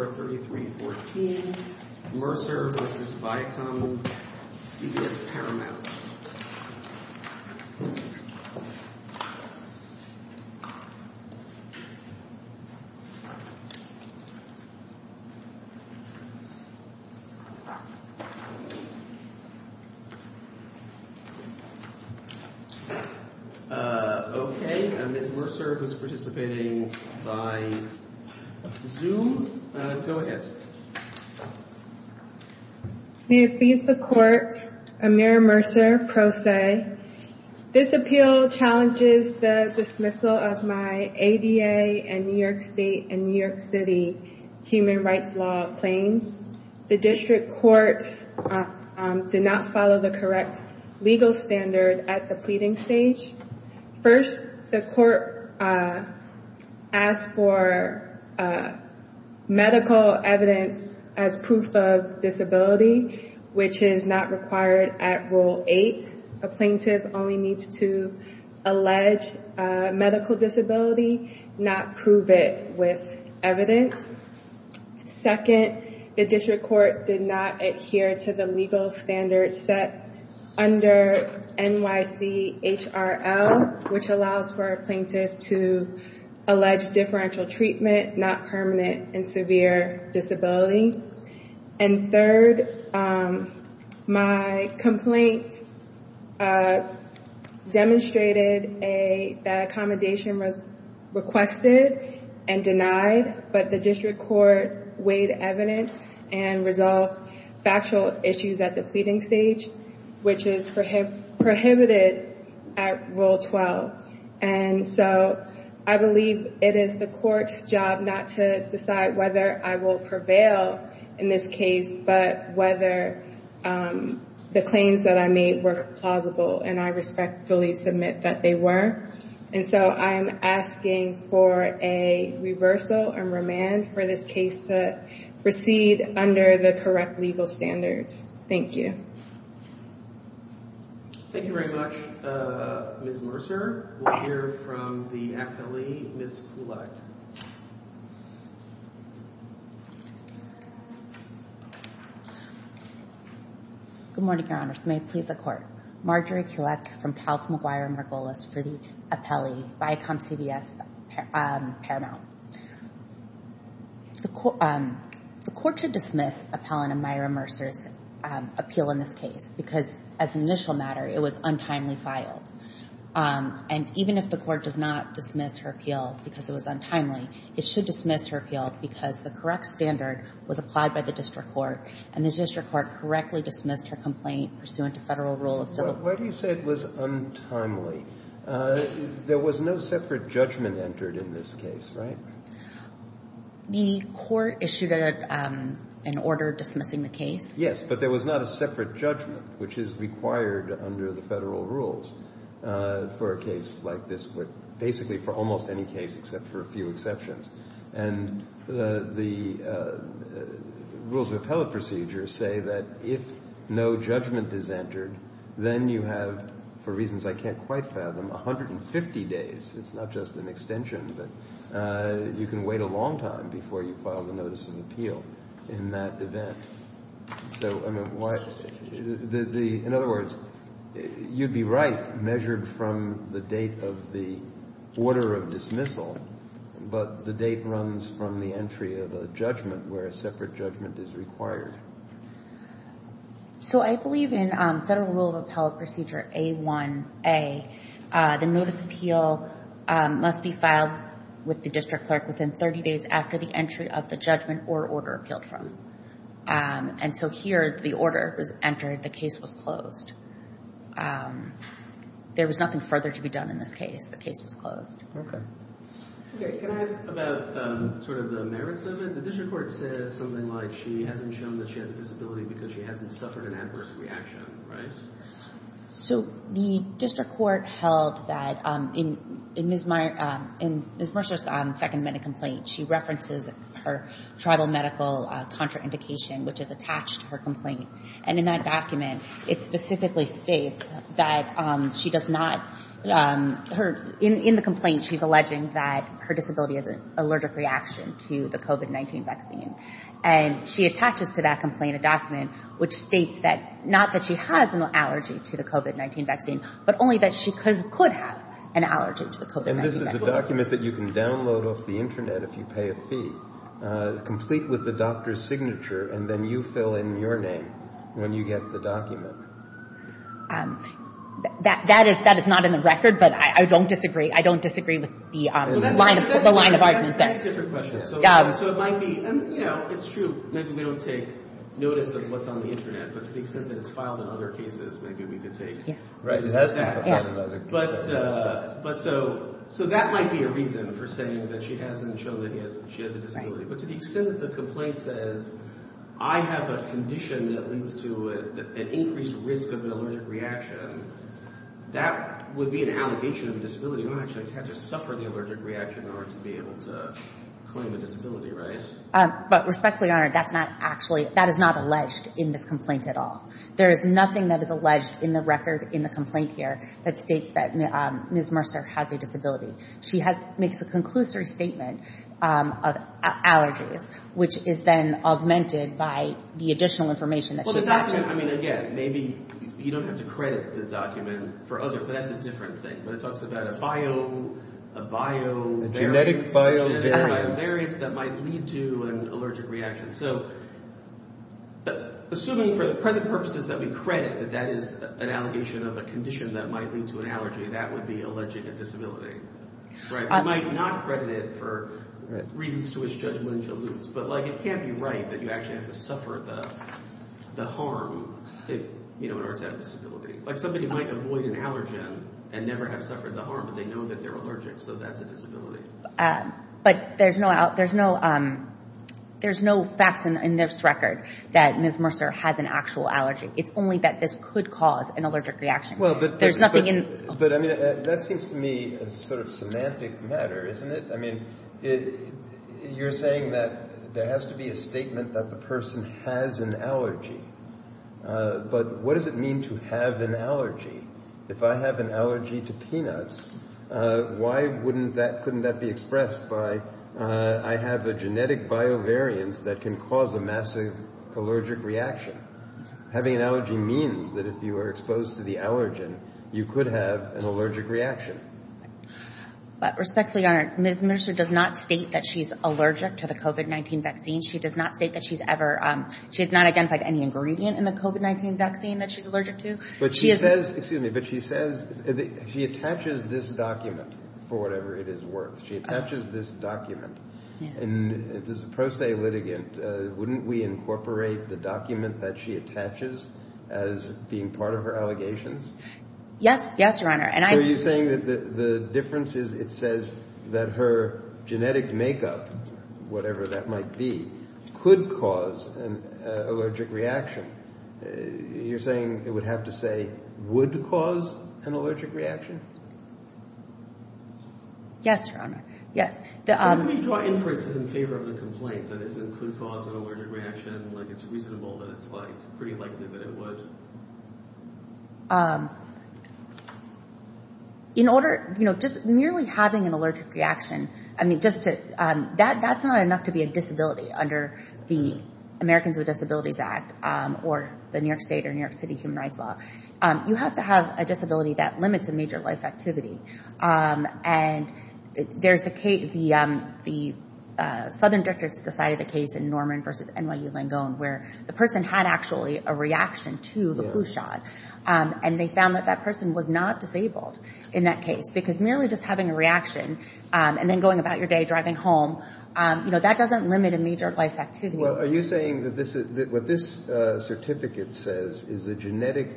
Okay, Ms. Mercer, who is participating by Zoom, do you have any questions for Ms. Mercer? Ms. Mercer, go ahead. Ms. Mercer May it please the Court, Amir Mercer, Pro Se. This appeal challenges the dismissal of my ADA and New York State and New York City human rights law claims. The district court did not follow the correct legal standard at the pleading stage. First, the court asked for medical evidence as proof of disability, which is not required at Rule 8. A plaintiff only needs to allege medical disability, not prove it with evidence. Second, the district court did not adhere to the legal standards set under NYCHRL, which allows for a plaintiff to allege differential treatment, not permanent and severe disability. And third, my complaint demonstrated that accommodation was requested and denied, but the district court weighed evidence and resolved factual issues at the pleading stage, which is prohibited at Rule 12. And so I believe it is the court's job not to decide whether I will prevail in this case, but whether the claims that I made were plausible, and I respectfully submit that they were. And so I'm asking for a reversal and remand for this case to proceed under the correct legal standards. Thank you. Thank you very much, Ms. Mercer. We'll hear from the appellee, Ms. Kulak. Good morning, Your Honors. May it please the Court. Marjorie Kulak from Talbot, McGuire, and Margolis for the appellee, Viacom CVS, Paramount. The Court should dismiss Appellant Myra Mercer's appeal in this case because as an initial matter, it was untimely filed. And even if the Court does not dismiss her appeal because it was untimely, it should dismiss her appeal because the correct standard was applied by the district court, and the district court correctly dismissed her complaint pursuant to federal rule of civil court. Why do you say it was untimely? There was no separate judgment entered in this case, right? The court issued an order dismissing the case. Yes, but there was not a separate judgment, which is required under the federal rules for a case like this, but basically for almost any case except for a few exceptions. And the rules of appellate procedure say that if no judgment is entered, then you have, for reasons I can't quite fathom, 150 days. It's not just an extension, but you can wait a long time before you file the notice of appeal in that event. So, I mean, in other words, you'd be right measured from the date of the order of dismissal, but the date runs from the entry of a judgment where a separate judgment is required. So I believe in Federal Rule of Appellate Procedure A1a, the notice of appeal must be filed with the district clerk within 30 days after the entry of the judgment or order appealed from. And so here the order was entered, the case was closed. There was nothing further to be done in this case. The case was closed. Okay. Okay, can I ask about sort of the merits of it? The district court says something like she hasn't shown that she has a disability because she hasn't suffered an adverse reaction, right? So the district court held that in Ms. Mercer's second medical complaint, she references her tribal medical contraindication, which is attached to her complaint. And in that document, it specifically states that she does not, in the complaint, she's alleging that her disability is an allergic reaction to the COVID-19 vaccine. And she attaches to that complaint a document which states not that she has an allergy to the COVID-19 vaccine, but only that she could have an allergy to the COVID-19 vaccine. And this is a document that you can download off the Internet if you pay a fee, complete with the doctor's signature, and then you fill in your name when you get the document. That is not in the record, but I don't disagree. I don't disagree with the line of argument there. That's a different question. So it might be, you know, it's true. Maybe we don't take notice of what's on the Internet, but to the extent that it's filed in other cases, maybe we could take notice of that. Right, because that's not what I'm talking about. But so that might be a reason for saying that she hasn't shown that she has a disability, but to the extent that the complaint says, I have a condition that leads to an increased risk of an allergic reaction, that would be an allegation of a disability. I actually had to suffer the allergic reaction in order to be able to claim a disability, right? But respectfully, Your Honor, that's not actually, that is not alleged in this complaint at all. There is nothing that is alleged in the record in the complaint here that states that Ms. Mercer has a disability. She makes a conclusory statement of allergies, which is then augmented by the additional information that she mentions. Well, the document, I mean, again, maybe you don't have to credit the document for other, but that's a different thing. But it talks about a bio, a bio variant. A genetic bio variant. A genetic bio variant that might lead to an allergic reaction. So assuming for the present purposes that we credit that that is an allegation of a condition that might lead to an allergy, that would be alleging a disability, right? We might not credit it for reasons to which Judge Lynch alludes. But, like, it can't be right that you actually have to suffer the harm if, you know, an artist has a disability. Like somebody might avoid an allergen and never have suffered the harm, but they know that they're allergic, so that's a disability. But there's no facts in this record that Ms. Mercer has an actual allergy. It's only that this could cause an allergic reaction. There's nothing in it. But, I mean, that seems to me a sort of semantic matter, isn't it? I mean, you're saying that there has to be a statement that the person has an allergy. But what does it mean to have an allergy? If I have an allergy to peanuts, why couldn't that be expressed by I have a genetic bio variant that can cause a massive allergic reaction? Having an allergy means that if you are exposed to the allergen, you could have an allergic reaction. But respectfully, Your Honor, Ms. Mercer does not state that she's allergic to the COVID-19 vaccine. She does not state that she's ever, she has not identified any ingredient in the COVID-19 vaccine that she's allergic to. But she says, excuse me, but she says she attaches this document for whatever it is worth. She attaches this document. And as a pro se litigant, wouldn't we incorporate the document that she attaches as being part of her allegations? Yes. Yes, Your Honor. So you're saying that the difference is it says that her genetic makeup, whatever that might be, could cause an allergic reaction. You're saying it would have to say would cause an allergic reaction? Yes, Your Honor. Yes. Let me draw inferences in favor of the complaint that it could cause an allergic reaction, like it's reasonable that it's like pretty likely that it would. In order, you know, just merely having an allergic reaction, I mean, just to, that's not enough to be a disability under the Americans with Disabilities Act, or the New York State or New York City human rights law. You have to have a disability that limits a major life activity. And there's a case, the Southern Districts decided the case in Norman versus NYU Langone, where the person had actually a reaction to the flu shot. And they found that that person was not disabled in that case. Because merely just having a reaction and then going about your day driving home, you know, that doesn't limit a major life activity. Well, are you saying that what this certificate says is a genetic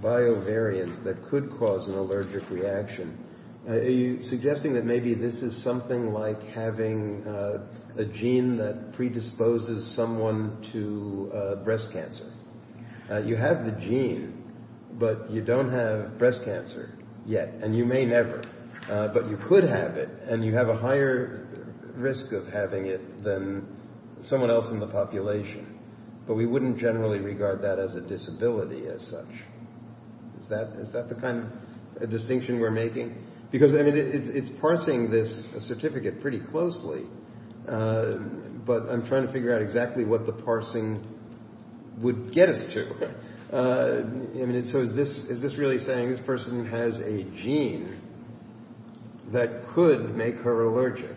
biovariance that could cause an allergic reaction? Are you suggesting that maybe this is something like having a gene that predisposes someone to breast cancer? You have the gene, but you don't have breast cancer yet, and you may never. But you could have it, and you have a higher risk of having it than someone else in the population. But we wouldn't generally regard that as a disability as such. Is that the kind of distinction we're making? Because, I mean, it's parsing this certificate pretty closely, but I'm trying to figure out exactly what the parsing would get us to. I mean, so is this really saying this person has a gene that could make her allergic?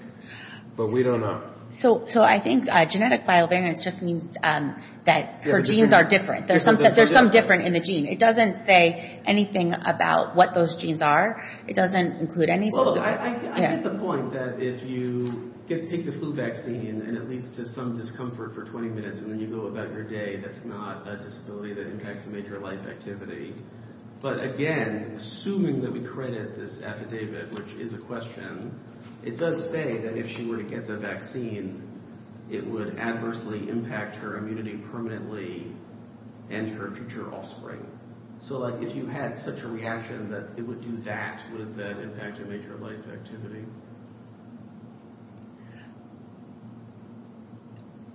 But we don't know. So I think genetic biovariance just means that her genes are different. There's some difference in the gene. It doesn't say anything about what those genes are. It doesn't include any system. Well, I get the point that if you take the flu vaccine and it leads to some discomfort for 20 minutes, and then you go about your day, that's not a disability that impacts a major life activity. But, again, assuming that we credit this affidavit, which is a question, it does say that if she were to get the vaccine, it would adversely impact her immunity permanently and her future offspring. So, like, if you had such a reaction that it would do that, would that impact a major life activity?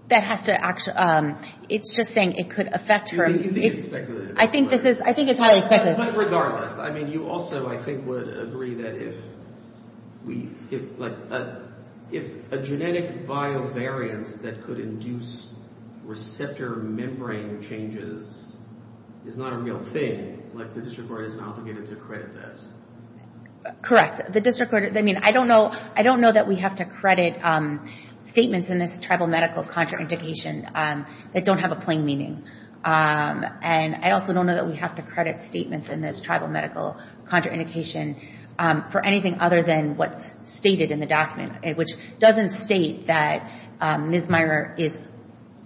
That has to actually – it's just saying it could affect her. You think it's speculative. I think it's highly speculative. But regardless, I mean, you also, I think, would agree that if we – like, if a genetic biovariance that could induce receptor membrane changes is not a real thing, like, the district court is obligated to credit that. Correct. I mean, I don't know that we have to credit statements in this tribal medical contraindication that don't have a plain meaning. And I also don't know that we have to credit statements in this tribal medical contraindication for anything other than what's stated in the document, which doesn't state that Ms. Meyer is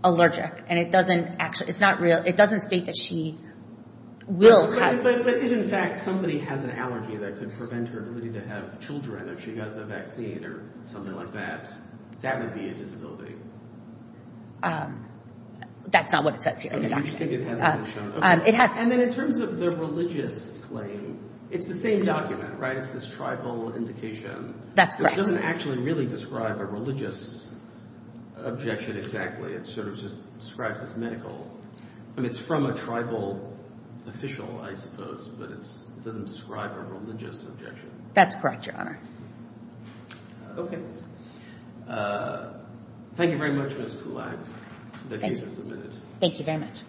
allergic. And it doesn't actually – it's not real. It doesn't state that she will have – if, in fact, somebody has an allergy that could prevent her ability to have children if she got the vaccine or something like that, that would be a disability. That's not what it says here in the document. Okay, you just think it hasn't been shown. It has – And then in terms of the religious claim, it's the same document, right? It's this tribal indication. That's correct. It doesn't actually really describe a religious objection exactly. It sort of just describes this medical. I mean, it's from a tribal official, I suppose, but it doesn't describe a religious objection. That's correct, Your Honor. Okay. Thank you very much, Ms. Poulak. The case is submitted. Thank you very much.